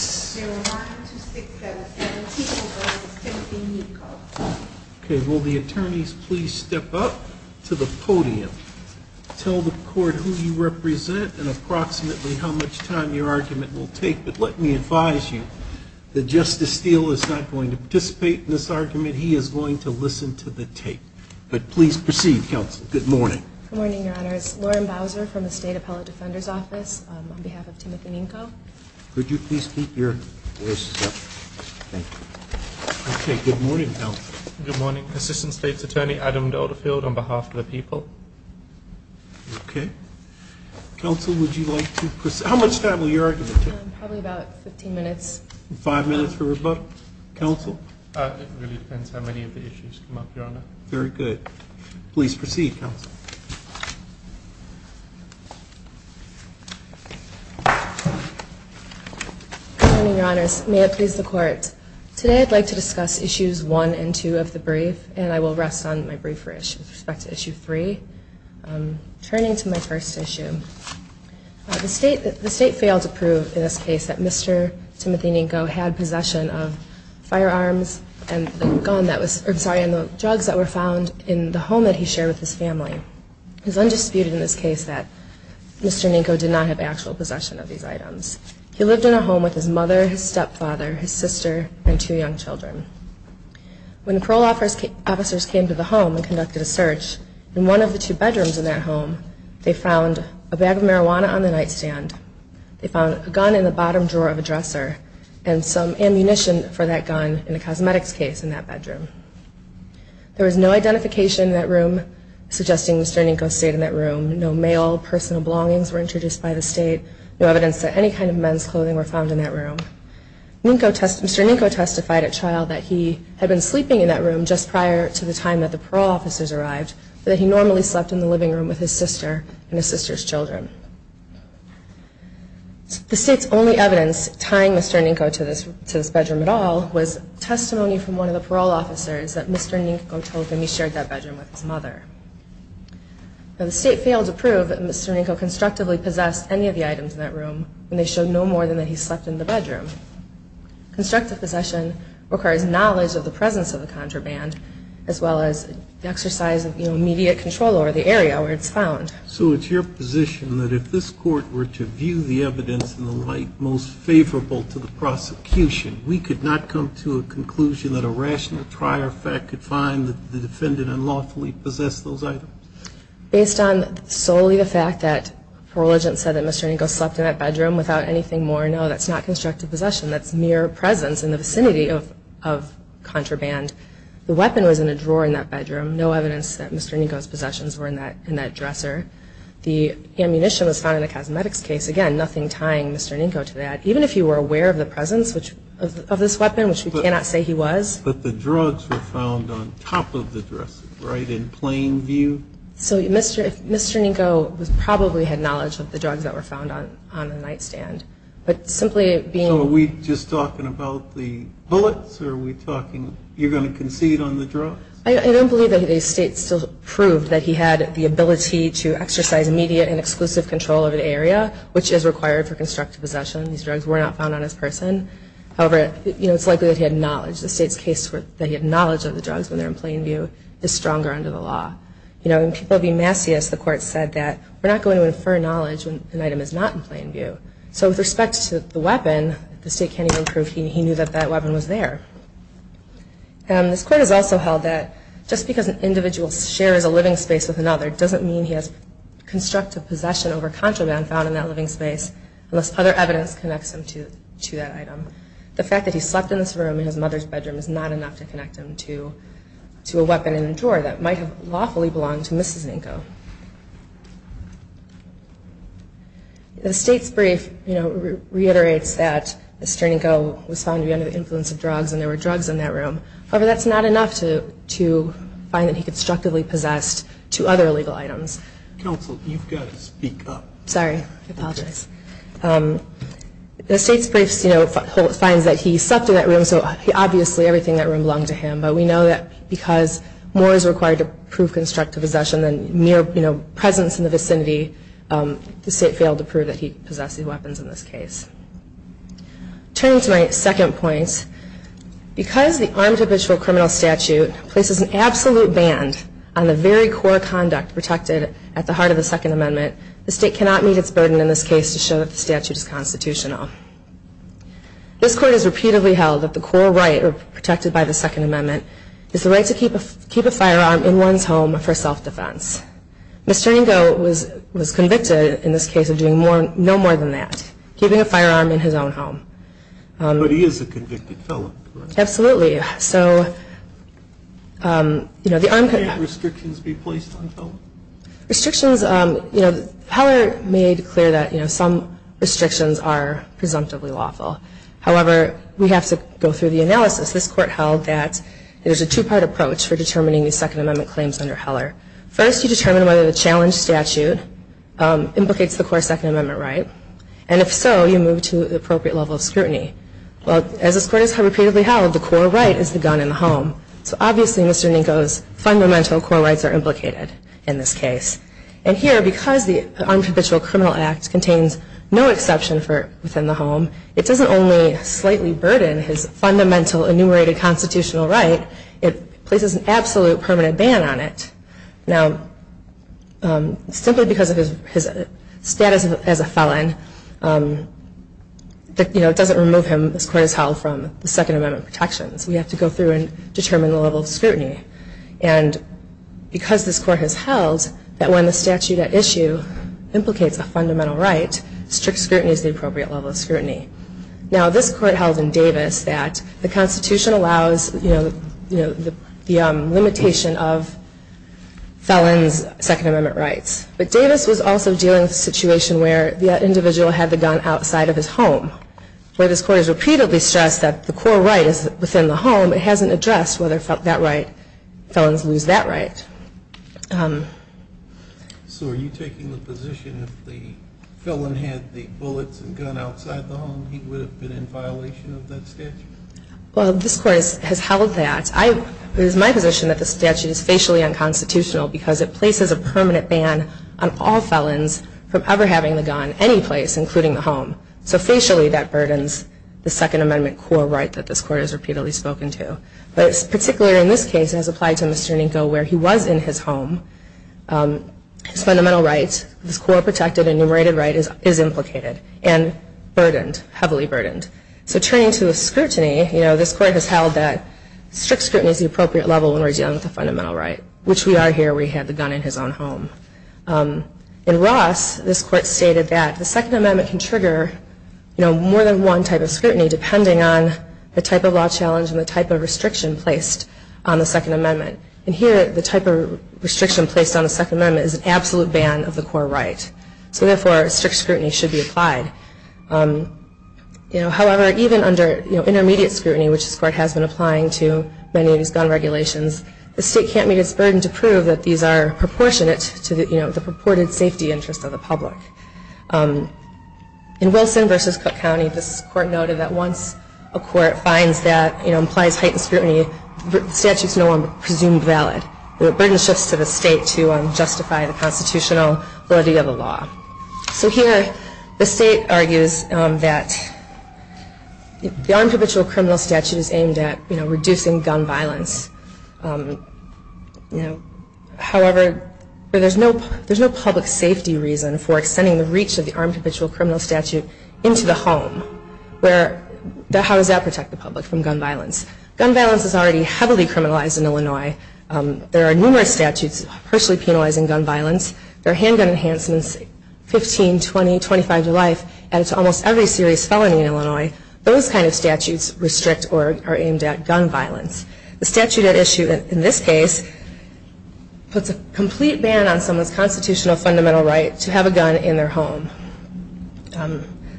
Okay, will the attorneys please step up to the podium? Tell the court who you represent and approximately how much time your argument will take. But let me advise you that Justice Steele is not going to participate in this argument. He is going to listen to the tape. But please proceed, counsel. Good morning. Good morning, Your Honor. It's Lauren Bowser from the State Appellate Defender's Office on behalf of Timothy Ninko. Could you please keep your voices up? Thank you. Okay, good morning, Helen. Good morning. Assistant State's Attorney Adam Dolderfield on behalf of the people. Okay. Counsel, would you like to proceed? How much time will your argument take? Probably about 15 minutes. Five minutes for rebuttal. Counsel? It really depends how many of the issues come up, Your Honor. Very good. Please proceed, counsel. Good morning, Your Honors. May it please the Court. Today I'd like to discuss issues one and two of the brief, and I will rest on my brieferish with respect to issue three. Turning to my first issue. The State failed to prove in this case that Mr. Timothy Ninko had possession of firearms and the drugs that were found in the home that he shared with his family. It is undisputed in this case that Mr. Ninko did not have actual possession of these items. He lived in a home with his mother, his stepfather, his sister, and two young children. When parole officers came to the home and conducted a search in one of the two bedrooms in that home, they found a bag of marijuana on the nightstand, they found a gun in the bottom drawer of a dresser, and some ammunition for that gun in a cosmetics case in that bedroom. There was no identification in that room suggesting Mr. Ninko stayed in that room. No mail, personal belongings were introduced by the State. No evidence that any kind of men's clothing were found in that room. Mr. Ninko testified at trial that he had been sleeping in that room just prior to the time that the parole officers arrived, but that he normally slept in the living room with his sister and his sister's children. The State's only evidence tying Mr. Ninko to this bedroom at all was testimony from one of the parole officers that Mr. Ninko told them he shared that bedroom with his mother. The State failed to prove that Mr. Ninko constructively possessed any of the items in that room, and they showed no more than that he slept in the bedroom. Constructive possession requires knowledge of the presence of the contraband, as well as the exercise of immediate control over the area where it's found. So it's your position that if this Court were to view the evidence in the light most favorable to the prosecution, we could not come to a conclusion that a rational trier of fact could find that the defendant unlawfully possessed those items? Based on solely the fact that parole agents said that Mr. Ninko slept in that bedroom without anything more, no, that's not constructive possession. That's mere presence in the vicinity of contraband. The weapon was in a drawer in that bedroom. No evidence that Mr. Ninko's possessions were in that dresser. The ammunition was found in the cosmetics case. Again, nothing tying Mr. Ninko to that. Even if you were aware of the presence of this weapon, which we cannot say he was. But the drugs were found on top of the dresser, right, in plain view? So Mr. Ninko probably had knowledge of the drugs that were found on the nightstand. But simply being... So are we just talking about the bullets, or are we talking, you're going to concede on the drugs? I don't believe that the State still proved that he had the ability to exercise immediate and exclusive control over the area, which is required for constructive possession. These drugs were not found on his person. However, it's likely that he had knowledge. The State's case that he had knowledge of the drugs when they're in plain view is stronger under the law. You know, in People v. Massius, the Court said that we're not going to infer knowledge when an item is not in plain view. So with respect to the weapon, the State can't even prove he knew that that weapon was there. This Court has also held that just because an individual shares a living space with another doesn't mean he has constructive possession over contraband found in that living space, unless other evidence connects him to that item. The fact that he slept in this room in his mother's bedroom is not enough to connect him to a weapon in a drawer that might have lawfully belonged to Mrs. Ninko. The State's brief reiterates that Mr. Ninko was found to be under the influence of drugs and there were drugs in that room. However, that's not enough to find that he constructively possessed two other illegal items. Counsel, you've got to speak up. Sorry, I apologize. The State's brief, you know, finds that he slept in that room, so obviously everything in that room belonged to him. But we know that because more is required to prove constructive possession than mere presence in the vicinity, the State failed to prove that he possessed these weapons in this case. Turning to my second point, because the Armed Habitual Criminal Statute places an absolute ban on the very core conduct protected at the heart of the Second Amendment, the State cannot meet its burden in this case to show that the statute is constitutional. This Court has repeatedly held that the core right protected by the Second Amendment is the right to keep a firearm in one's home for self-defense. Mr. Ninko was convicted in this case of doing no more than that, keeping a firearm in his own home. But he is a convicted felon, correct? Absolutely. Can't restrictions be placed on felons? Restrictions, you know, Heller made clear that, you know, some restrictions are presumptively lawful. However, we have to go through the analysis. This Court held that there's a two-part approach for determining the Second Amendment claims under Heller. First, you determine whether the challenge statute implicates the core Second Amendment right, and if so, you move to the appropriate level of scrutiny. Well, as this Court has repeatedly held, the core right is the gun in the home. So obviously, Mr. Ninko's fundamental core rights are implicated in this case. And here, because the Armed Habitual Criminal Act contains no exception for within the home, it doesn't only slightly burden his fundamental enumerated constitutional right, it places an absolute permanent ban on it. Now, simply because of his status as a felon, you know, it doesn't remove him, this Court has held, from the Second Amendment protections. We have to go through and determine the level of scrutiny. And because this Court has held that when the statute at issue implicates a fundamental right, strict scrutiny is the appropriate level of scrutiny. Now, this Court held in Davis that the Constitution allows, you know, the limitation of felons' Second Amendment rights. But Davis was also dealing with a situation where the individual had the gun outside of his home. Where this Court has repeatedly stressed that the core right is within the home, it hasn't addressed whether felons lose that right. So are you taking the position that if the felon had the bullets and gun outside the home, he would have been in violation of that statute? Well, this Court has held that. It is my position that the statute is facially unconstitutional because it places a permanent ban on all felons from ever having the gun anyplace, including the home. So facially, that burdens the Second Amendment core right that this Court has repeatedly spoken to. But particularly in this case, as applied to Mr. Niko, where he was in his home, his fundamental rights, his core protected and enumerated right is implicated and burdened, heavily burdened. So turning to the scrutiny, you know, this Court has held that strict scrutiny is the appropriate level when we're dealing with a fundamental right, which we are here where he had the gun in his own home. In Ross, this Court stated that the Second Amendment can trigger, you know, more than one type of scrutiny depending on the type of law challenge and the type of restriction placed on the Second Amendment. And here, the type of restriction placed on the Second Amendment is an absolute ban of the core right. So therefore, strict scrutiny should be applied. You know, however, even under, you know, intermediate scrutiny, which this Court has been applying to many of these gun regulations, the State can't meet its burden to prove that these are proportionate to, you know, the purported safety interests of the public. In Wilson v. Cook County, this Court noted that once a court finds that, you know, implies heightened scrutiny, the statute is no longer presumed valid. The burden shifts to the State to justify the constitutional validity of the law. So here, the State argues that the Armed Capitual Criminal Statute is aimed at, you know, reducing gun violence. However, there's no public safety reason for extending the reach of the Armed Capitual Criminal Statute into the home. How does that protect the public from gun violence? Gun violence is already heavily criminalized in Illinois. There are numerous statutes partially penalizing gun violence. There are handgun enhancements, 15, 20, 25 to life, and it's almost every serious felony in Illinois. Those kind of statutes restrict or are aimed at gun violence. The statute at issue in this case puts a complete ban on someone's constitutional fundamental right to have a gun in their home.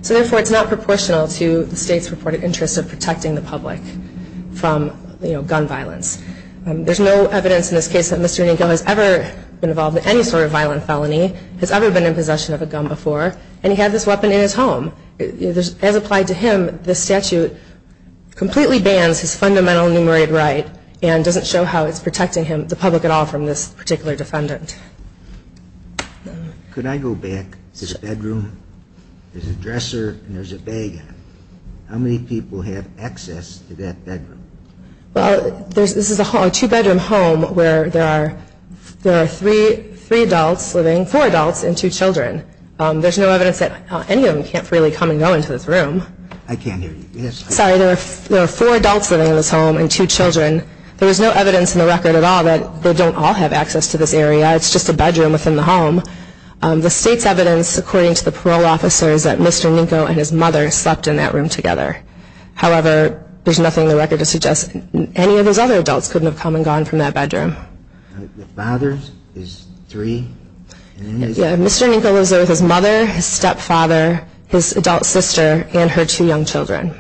So therefore, it's not proportional to the State's purported interest of protecting the public from, you know, gun violence. There's no evidence in this case that Mr. Inigo has ever been involved in any sort of violent felony, has ever been in possession of a gun before, and he had this weapon in his home. As applied to him, the statute completely bans his fundamental enumerated right and doesn't show how it's protecting him, the public at all, from this particular defendant. Could I go back to the bedroom? There's a dresser and there's a bag on it. How many people have access to that bedroom? Well, this is a two-bedroom home where there are three adults living, four adults and two children. There's no evidence that any of them can't freely come and go into this room. I can't hear you. Sorry, there are four adults living in this home and two children. There is no evidence in the record at all that they don't all have access to this area. It's just a bedroom within the home. The State's evidence, according to the parole officer, is that Mr. Inigo and his mother slept in that room together. However, there's nothing in the record to suggest any of those other adults couldn't have come and gone from that bedroom. The father is three? Yeah, Mr. Inigo lives there with his mother, his stepfather, his adult sister, and her two young children.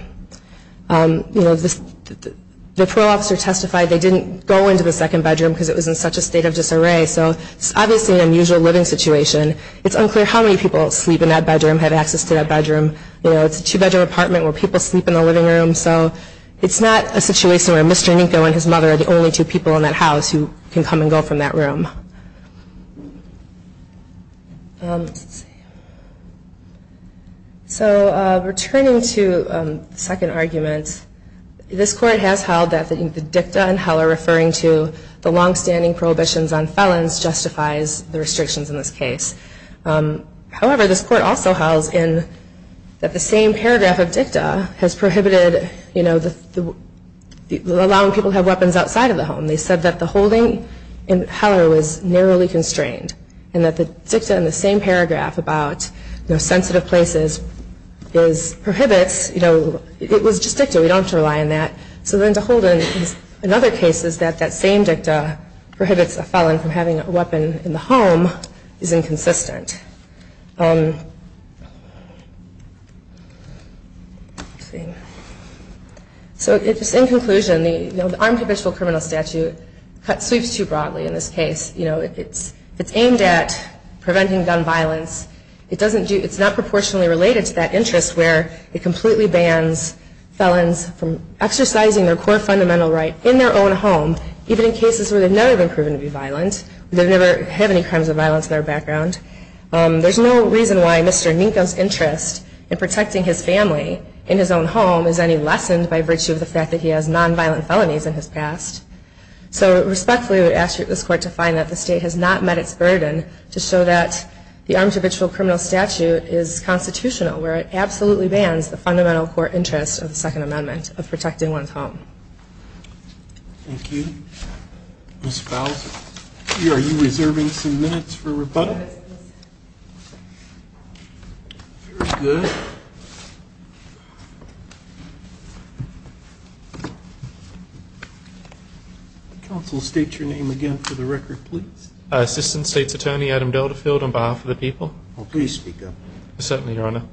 The parole officer testified they didn't go into the second bedroom because it was in such a state of disarray. So it's obviously an unusual living situation. It's unclear how many people sleep in that bedroom, have access to that bedroom. It's a two-bedroom apartment where people sleep in the living room. So it's not a situation where Mr. Inigo and his mother are the only two people in that house who can come and go from that room. Returning to the second argument, this Court has held that the dicta in Heller referring to the long-standing prohibitions on felons justifies the restrictions in this case. However, this Court also held that the same paragraph of dicta has prohibited allowing people to have weapons outside of the home. They said that the holding in Heller was narrowly constrained and that the dicta in the same paragraph about sensitive places prohibits. It was just dicta. We don't have to rely on that. So then to hold in another case is that that same dicta prohibits a felon from having a weapon in the home is inconsistent. So just in conclusion, the armed capital criminal statute sweeps too broadly in this case. It's aimed at preventing gun violence. It's not proportionally related to that interest where it completely bans felons from exercising their core fundamental right in their own home, even in cases where they've never been proven to be violent, where they've never had any crimes of violence in their background. There's no reason why Mr. Inigo's interest in protecting his family in his own home is any lessened by virtue of the fact that he has nonviolent felonies in his past. So respectfully, I would ask this Court to find that the state has not met its burden to show that the armed capital criminal statute is not a violation. The armed capital criminal statute is constitutional where it absolutely bans the fundamental core interest of the Second Amendment of protecting one's home. Thank you. Ms. Fouser, are you reserving some minutes for rebuttal? Very good. Counsel, state your name again for the record, please. Assistant State's Attorney, Adam Delderfield, on behalf of the people. Please speak up. Certainly, Your Honor.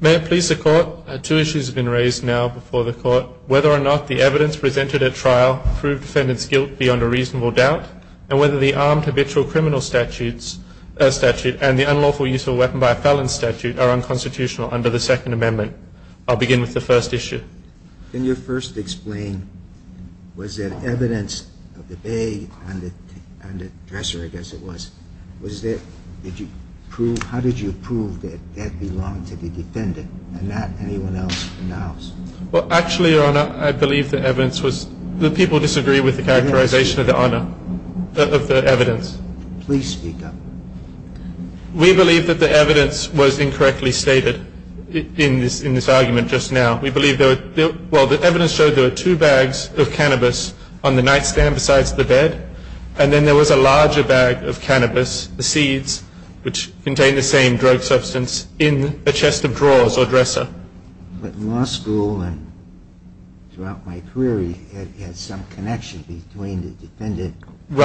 May it please the Court, two issues have been raised now before the Court, whether or not the evidence presented at trial proved defendant's guilt beyond a reasonable doubt, and whether the armed habitual criminal statute and the unlawful use of a weapon by a felon statute are unconstitutional under the Second Amendment. I'll begin with the first issue. Can you first explain, was there evidence of the bag on the dresser, I guess it was, was there, did you prove, how did you prove that that belonged to the defendant and not anyone else in the house? Well, actually, Your Honor, I believe the evidence was, the people disagree with the characterization of the evidence. Please speak up. We believe that the evidence was incorrectly stated in this argument just now. We believe there were, well, the evidence showed there were two bags of cannabis on the nightstand besides the bed, and then there was a larger bag of cannabis, the seeds, which contained the same drug substance, in a chest of drawers or dresser. But in law school and throughout my career, you had some connection between the defendant and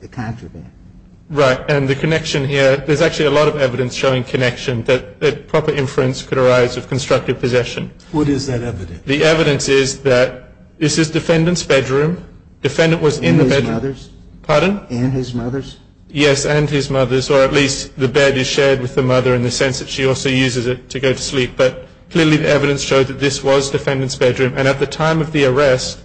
the contraband. Right, and the connection here, there's actually a lot of evidence showing connection that proper inference could arise of constructive possession. What is that evidence? The evidence is that this is defendant's bedroom, defendant was in the bedroom. The bed was shared with the mother in the sense that she also uses it to go to sleep. But clearly the evidence showed that this was defendant's bedroom. And at the time of the arrest,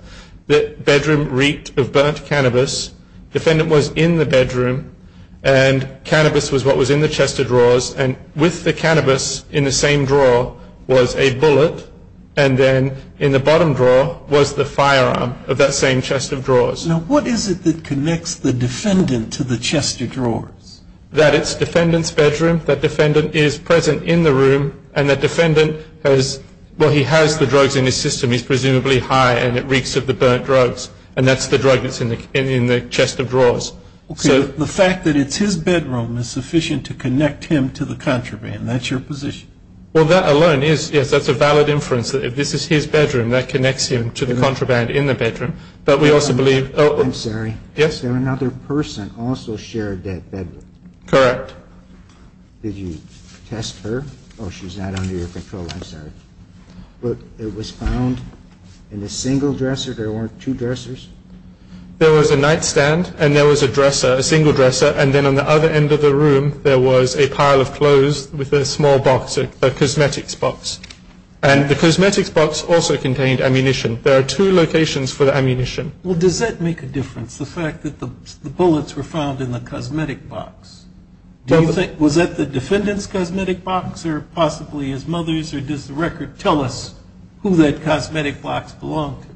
the bedroom reeked of burnt cannabis. Defendant was in the bedroom, and cannabis was what was in the chest of drawers. And with the cannabis in the same drawer was a bullet, and then in the bottom drawer was the firearm of that same chest of drawers. Now what is it that connects the defendant to the chest of drawers? That it's defendant's bedroom, that defendant is present in the room, and that defendant has, well, he has the drugs in his system. He's presumably high, and it reeks of the burnt drugs, and that's the drug that's in the chest of drawers. Okay, the fact that it's his bedroom is sufficient to connect him to the contraband. That's your position? Well, that alone is, yes, that's a valid inference, that if this is his bedroom, that connects him to the contraband in the bedroom. But we also believe... I'm sorry. Yes? Another person also shared that bedroom. Correct. Did you test her? Oh, she's not under your control. I'm sorry. But it was found in a single dresser? There weren't two dressers? There was a nightstand, and there was a dresser, a single dresser, and then on the other end of the room, there was a pile of clothes with a small box, a cosmetics box. And the cosmetics box also contained ammunition. There are two locations for the ammunition. Well, does that make a difference, the fact that the bullets were found in the cosmetic box? Was that the defendant's cosmetic box, or possibly his mother's, or does the record tell us who that cosmetic box belonged to?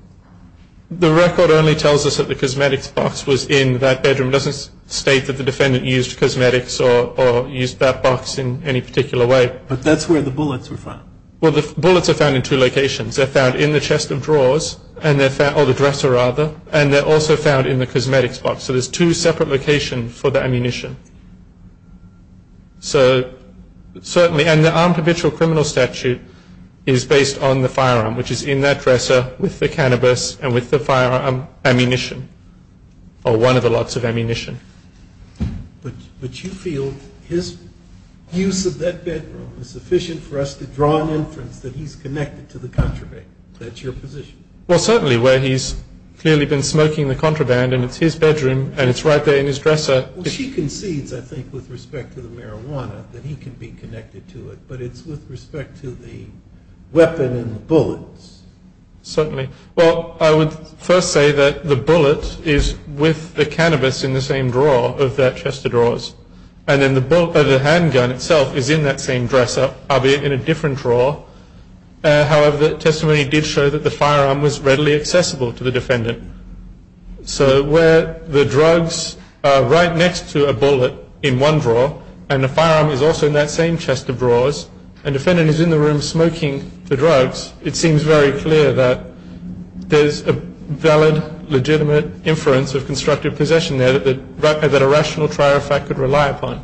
The record only tells us that the cosmetics box was in that bedroom. It doesn't state that the defendant used cosmetics or used that box in any particular way. But that's where the bullets were found. Well, the bullets are found in two locations. They're found in the chest of drawers, or the dresser, rather, and they're also found in the cosmetics box. So there's two separate locations for the ammunition. And the armed habitual criminal statute is based on the firearm, which is in that dresser with the cannabis and with the firearm ammunition, or one of the lots of ammunition. But you feel his use of that bedroom is sufficient for us to draw an inference that he's connected to the contraband. That's your position. Well, certainly, where he's clearly been smoking the contraband, and it's his bedroom, and it's right there in his dresser. She concedes, I think, with respect to the marijuana, that he can be connected to it, but it's with respect to the weapon and the bullets. Certainly. Well, I would first say that the bullet is with the cannabis in the same drawer of that chest of drawers, and then the handgun itself is in that same dresser, albeit in a different drawer. However, the testimony did show that the firearm was readily accessible to the defendant. So where the drugs are right next to a bullet in one drawer, and the firearm is also in that same chest of drawers, and the defendant is in the room smoking the drugs, it seems very clear that there's a valid, legitimate inference of constructive possession there that a rational trier of fact could rely upon.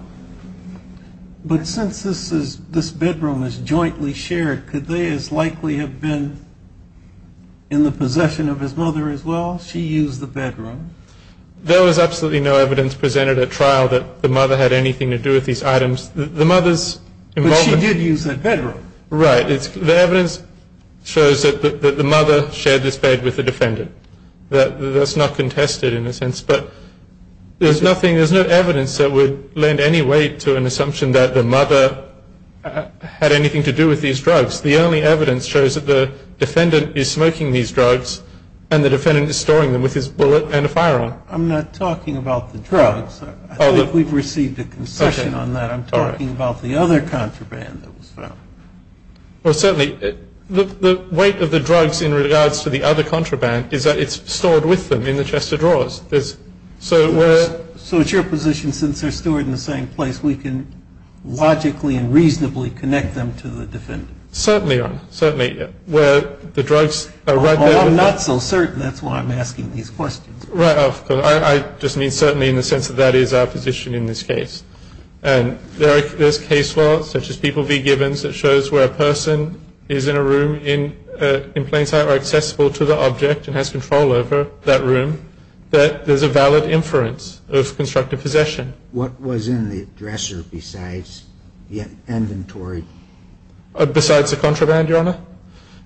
But since this bedroom is jointly shared, could they as likely have been in the possession of his mother as well? She used the bedroom. There was absolutely no evidence presented at trial that the mother had anything to do with these items. But she did use that bedroom. Right. The evidence shows that the mother shared this bed with the defendant. That's not contested, in a sense. But there's no evidence that would lend any weight to an assumption that the mother had anything to do with these drugs. The only evidence shows that the defendant is smoking these drugs, and the defendant is storing them with his bullet and a firearm. I'm not talking about the drugs. I think we've received a concession on that. I'm talking about the other contraband that was found. Well, certainly the weight of the drugs in regards to the other contraband is that it's stored with them in the chest of drawers. So it's your position, since they're stored in the same place, we can logically and reasonably connect them to the defendant? Certainly, Your Honor. Certainly. Well, I'm not so certain. That's why I'm asking these questions. Right. I just mean certainly in the sense that that is our position in this case. And there's case laws, such as People v. Givens, that shows where a person is in a room in plain sight or accessible to the object and has control over that room, that there's a valid inference of constructive possession. What was in the dresser besides the inventory? Besides the contraband, Your Honor?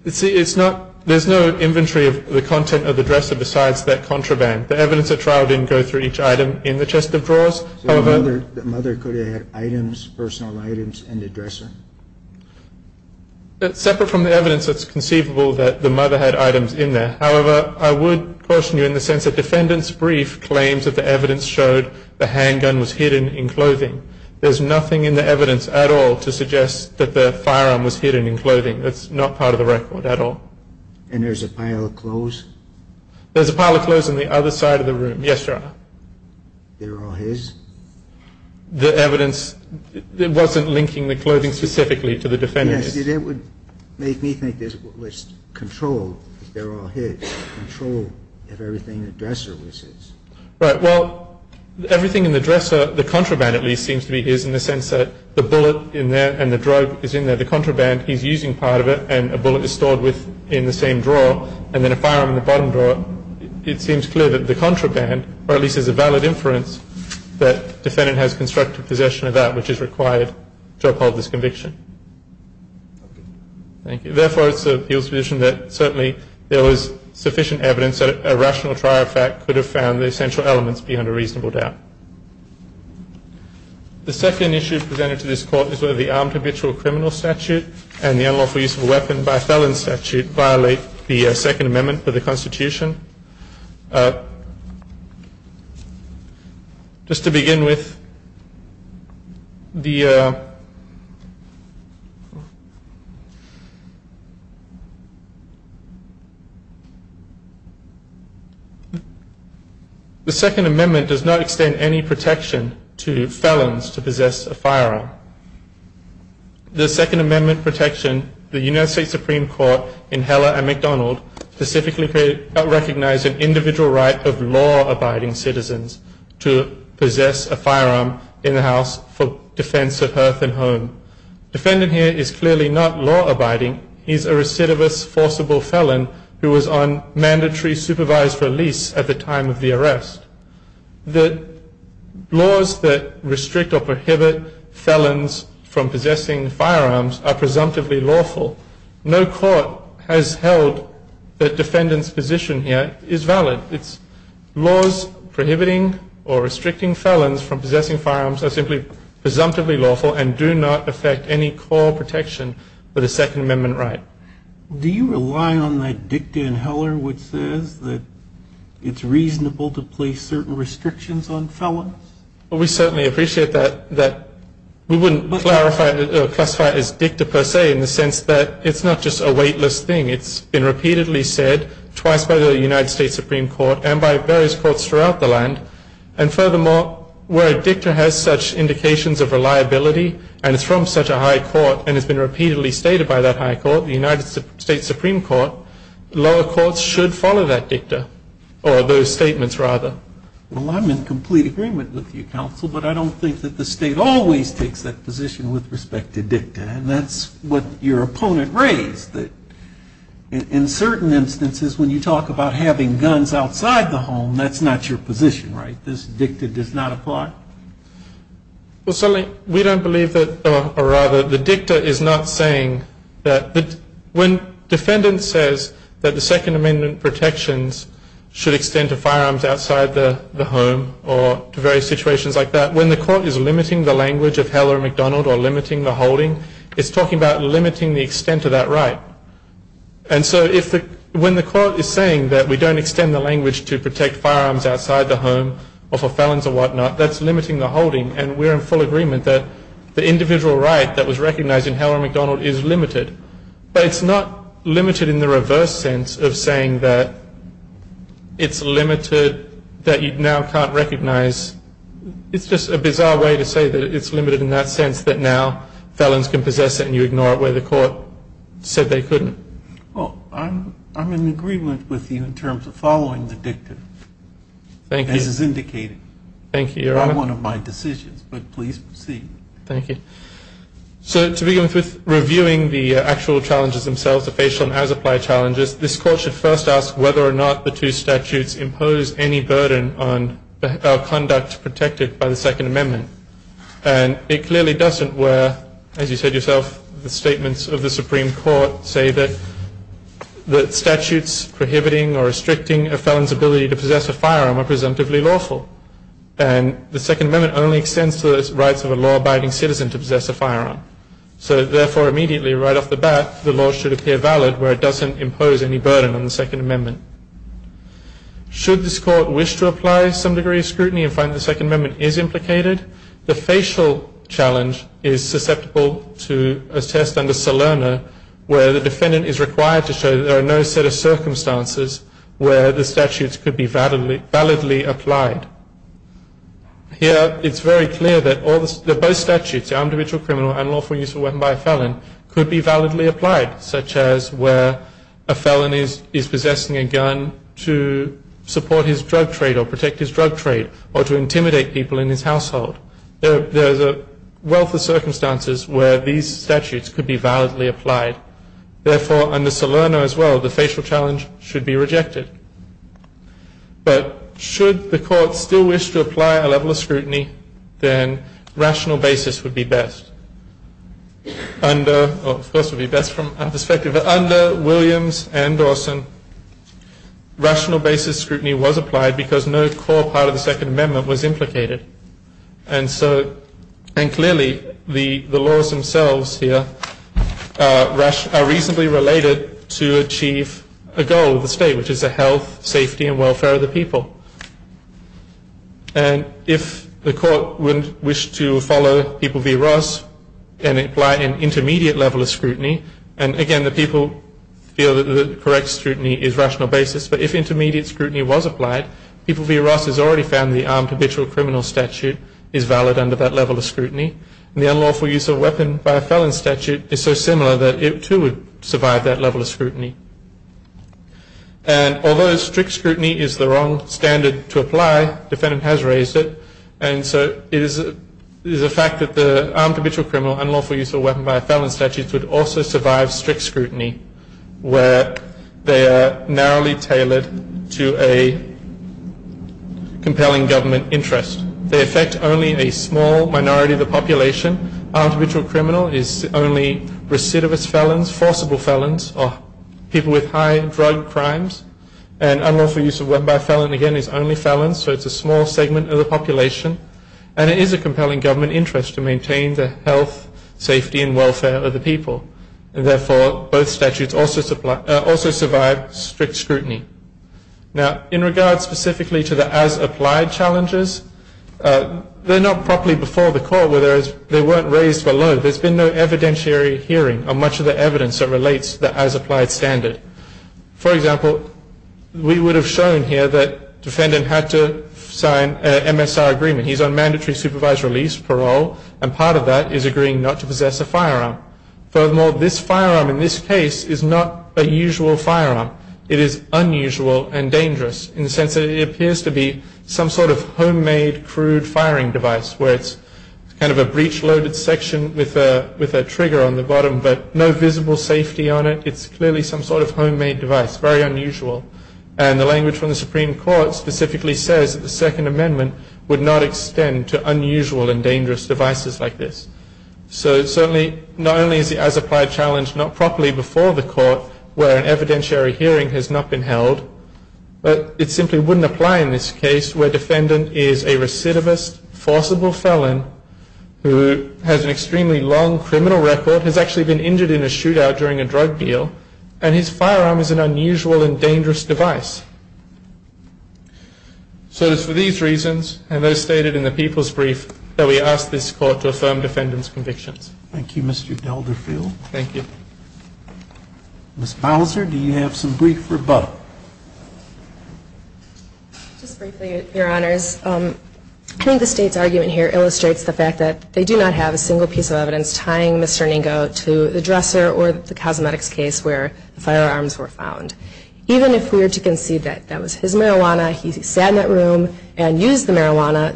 There's no inventory of the content of the dresser besides that contraband. The evidence at trial didn't go through each item in the chest of drawers. So the mother could have had items, personal items, in the dresser? Separate from the evidence, it's conceivable that the mother had items in there. However, I would caution you in the sense that the defendant's brief claims that the evidence showed the handgun was hidden in clothing. There's nothing in the evidence at all to suggest that the firearm was hidden in clothing. That's not part of the record at all. And there's a pile of clothes? There's a pile of clothes on the other side of the room, yes, Your Honor. They're all his? The evidence wasn't linking the clothing specifically to the defendant. Yes, it would make me think there's at least control, that they're all his, control of everything in the dresser was his. Right. Well, everything in the dresser, the contraband at least, seems to be his in the sense that the bullet in there and the drug is in there. The contraband, he's using part of it and a bullet is stored in the same drawer and then a firearm in the bottom drawer. It seems clear that the contraband, or at least there's a valid inference, that defendant has constructive possession of that which is required to uphold this conviction. Okay. Thank you. Therefore, it's the appeal's position that certainly there was sufficient evidence that a rational trial fact could have found the essential elements beyond a reasonable doubt. The second issue presented to this Court is whether the armed habitual criminal statute and the unlawful use of a weapon by felon statute violate the Second Amendment of the Constitution. Just to begin with, the Second Amendment does not extend any protection to felons to possess a firearm. The Second Amendment protection, the United States Supreme Court in Heller and McDonald, specifically recognized an individual right of law-abiding citizens to possess a firearm in the house for defense of hearth and home. Defendant here is clearly not law-abiding. He's a recidivist forcible felon who was on mandatory supervised release at the time of the arrest. The laws that restrict or prohibit felons from possessing firearms are presumptively lawful. No court has held that defendant's position here is valid. It's laws prohibiting or restricting felons from possessing firearms are simply presumptively lawful and do not affect any core protection for the Second Amendment right. Do you rely on that dicta in Heller which says that it's reasonable to place certain restrictions on felons? We certainly appreciate that. We wouldn't classify it as dicta per se in the sense that it's not just a weightless thing. It's been repeatedly said twice by the United States Supreme Court and by various courts throughout the land. And furthermore, where a dicta has such indications of reliability and is from such a high court and has been repeatedly stated by that high court, the United States Supreme Court, lower courts should follow that dicta or those statements rather. Well, I'm in complete agreement with you, counsel, but I don't think that the state always takes that position with respect to dicta. And that's what your opponent raised that in certain instances when you talk about having guns outside the home, that's not your position, right? This dicta does not apply? We don't believe that, or rather, the dicta is not saying that. When defendants says that the Second Amendment protections should extend to firearms outside the home or to various situations like that, when the court is limiting the language of Heller and McDonald or limiting the holding, it's talking about limiting the extent of that right. And so when the court is saying that we don't extend the language to protect firearms outside the home or for felons or whatnot, that's limiting the holding. And we're in full agreement that the individual right that was recognized in Heller and McDonald is limited. But it's not limited in the reverse sense of saying that it's limited that you now can't recognize. It's just a bizarre way to say that it's limited in that sense that now felons can possess it and you ignore it where the court said they couldn't. Well, I'm in agreement with you in terms of following the dicta. Thank you. As is indicated. Thank you, Your Honor. Not one of my decisions, but please proceed. Thank you. So to begin with, reviewing the actual challenges themselves, the facial and as-applied challenges, this Court should first ask whether or not the two statutes impose any burden on conduct protected by the Second Amendment. And it clearly doesn't where, as you said yourself, the statements of the Supreme Court say that statutes prohibiting or restricting a felon's ability to possess a firearm are presumptively lawful. And the Second Amendment only extends to the rights of a law-abiding citizen to possess a firearm. So, therefore, immediately right off the bat, the law should appear valid where it doesn't impose any burden on the Second Amendment. Should this Court wish to apply some degree of scrutiny and find the Second Amendment is implicated, the facial challenge is susceptible to a test under Salerno where the defendant is required to show that there are no set of circumstances where the statutes could be validly applied. Here it's very clear that both statutes, the individual criminal and lawful use of a weapon by a felon, could be validly applied, such as where a felon is possessing a gun to support his drug trade or protect his drug trade or to intimidate people in his household. There is a wealth of circumstances where these statutes could be validly applied. Therefore, under Salerno as well, the facial challenge should be rejected. But should the Court still wish to apply a level of scrutiny, then rational basis would be best. Of course, it would be best from our perspective. But under Williams and Dawson, rational basis scrutiny was applied because no core part of the Second Amendment was implicated. And so, and clearly, the laws themselves here are reasonably related to achieve a goal of the state, which is the health, safety and welfare of the people. And if the Court would wish to follow people v. Ross and apply an intermediate level of scrutiny, and again, the people feel that the correct scrutiny is rational basis, but if intermediate scrutiny was applied, people v. Ross has already found the armed habitual criminal statute is valid under that level of scrutiny. And the unlawful use of a weapon by a felon statute is so similar that it too would survive that level of scrutiny. And although strict scrutiny is the wrong standard to apply, the defendant has raised it, and so it is a fact that the armed habitual criminal, unlawful use of a weapon by a felon statute would also survive strict scrutiny where they are narrowly tailored to a compelling government interest. They affect only a small minority of the population. Armed habitual criminal is only recidivist felons, forcible felons, or people with high drug crimes. And unlawful use of a weapon by a felon, again, is only felons, so it's a small segment of the population. And it is a compelling government interest to maintain the health, safety, and welfare of the people. Therefore, both statutes also survive strict scrutiny. Now, in regards specifically to the as-applied challenges, they're not properly before the court, where they weren't raised below. There's been no evidentiary hearing on much of the evidence that relates to the as-applied standard. For example, we would have shown here that the defendant had to sign an MSR agreement. He's on mandatory supervised release, parole, and part of that is agreeing not to possess a firearm. Furthermore, this firearm in this case is not a usual firearm. It is unusual and dangerous in the sense that it appears to be some sort of homemade crude firing device where it's kind of a breech-loaded section with a trigger on the bottom but no visible safety on it. It's clearly some sort of homemade device, very unusual. And the language from the Supreme Court specifically says that the Second Amendment would not extend to unusual and dangerous devices like this. So certainly, not only is the as-applied challenge not properly before the court, where an evidentiary hearing has not been held, but it simply wouldn't apply in this case where a defendant is a recidivist, forcible felon, who has an extremely long criminal record, but has actually been injured in a shootout during a drug deal, and his firearm is an unusual and dangerous device. So it's for these reasons, and those stated in the People's Brief, that we ask this Court to affirm defendant's convictions. Thank you, Mr. Delderfield. Thank you. Ms. Bowser, do you have some brief rebuttal? Just briefly, Your Honors. I think the State's argument here illustrates the fact that they do not have a single piece of evidence tying Mr. Ningo to the dresser or the cosmetics case where the firearms were found. Even if we were to concede that that was his marijuana, he sat in that room and used the marijuana,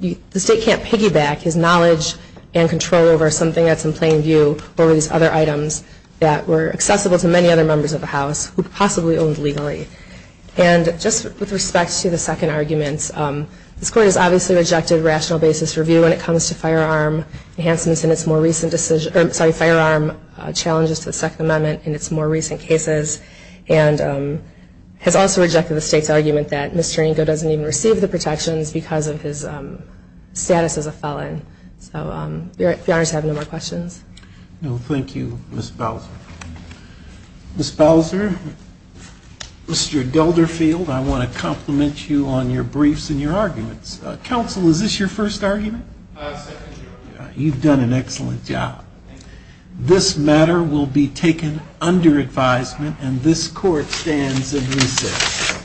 the State can't piggyback his knowledge and control over something that's in plain view over these other items that were accessible to many other members of the House, who possibly owned legally. And just with respect to the second argument, this Court has obviously rejected rational basis review when it comes to firearm enhancements and its more recent decision, sorry, firearm challenges to the Second Amendment and its more recent cases, and has also rejected the State's argument that Mr. Ningo doesn't even receive the protections because of his status as a felon. So Your Honors have no more questions. No, thank you, Ms. Bowser. Ms. Bowser, Mr. Delderfield, I want to compliment you on your briefs and your arguments. Counsel, is this your first argument? Second. You've done an excellent job. This matter will be taken under advisement and this Court stands in recess.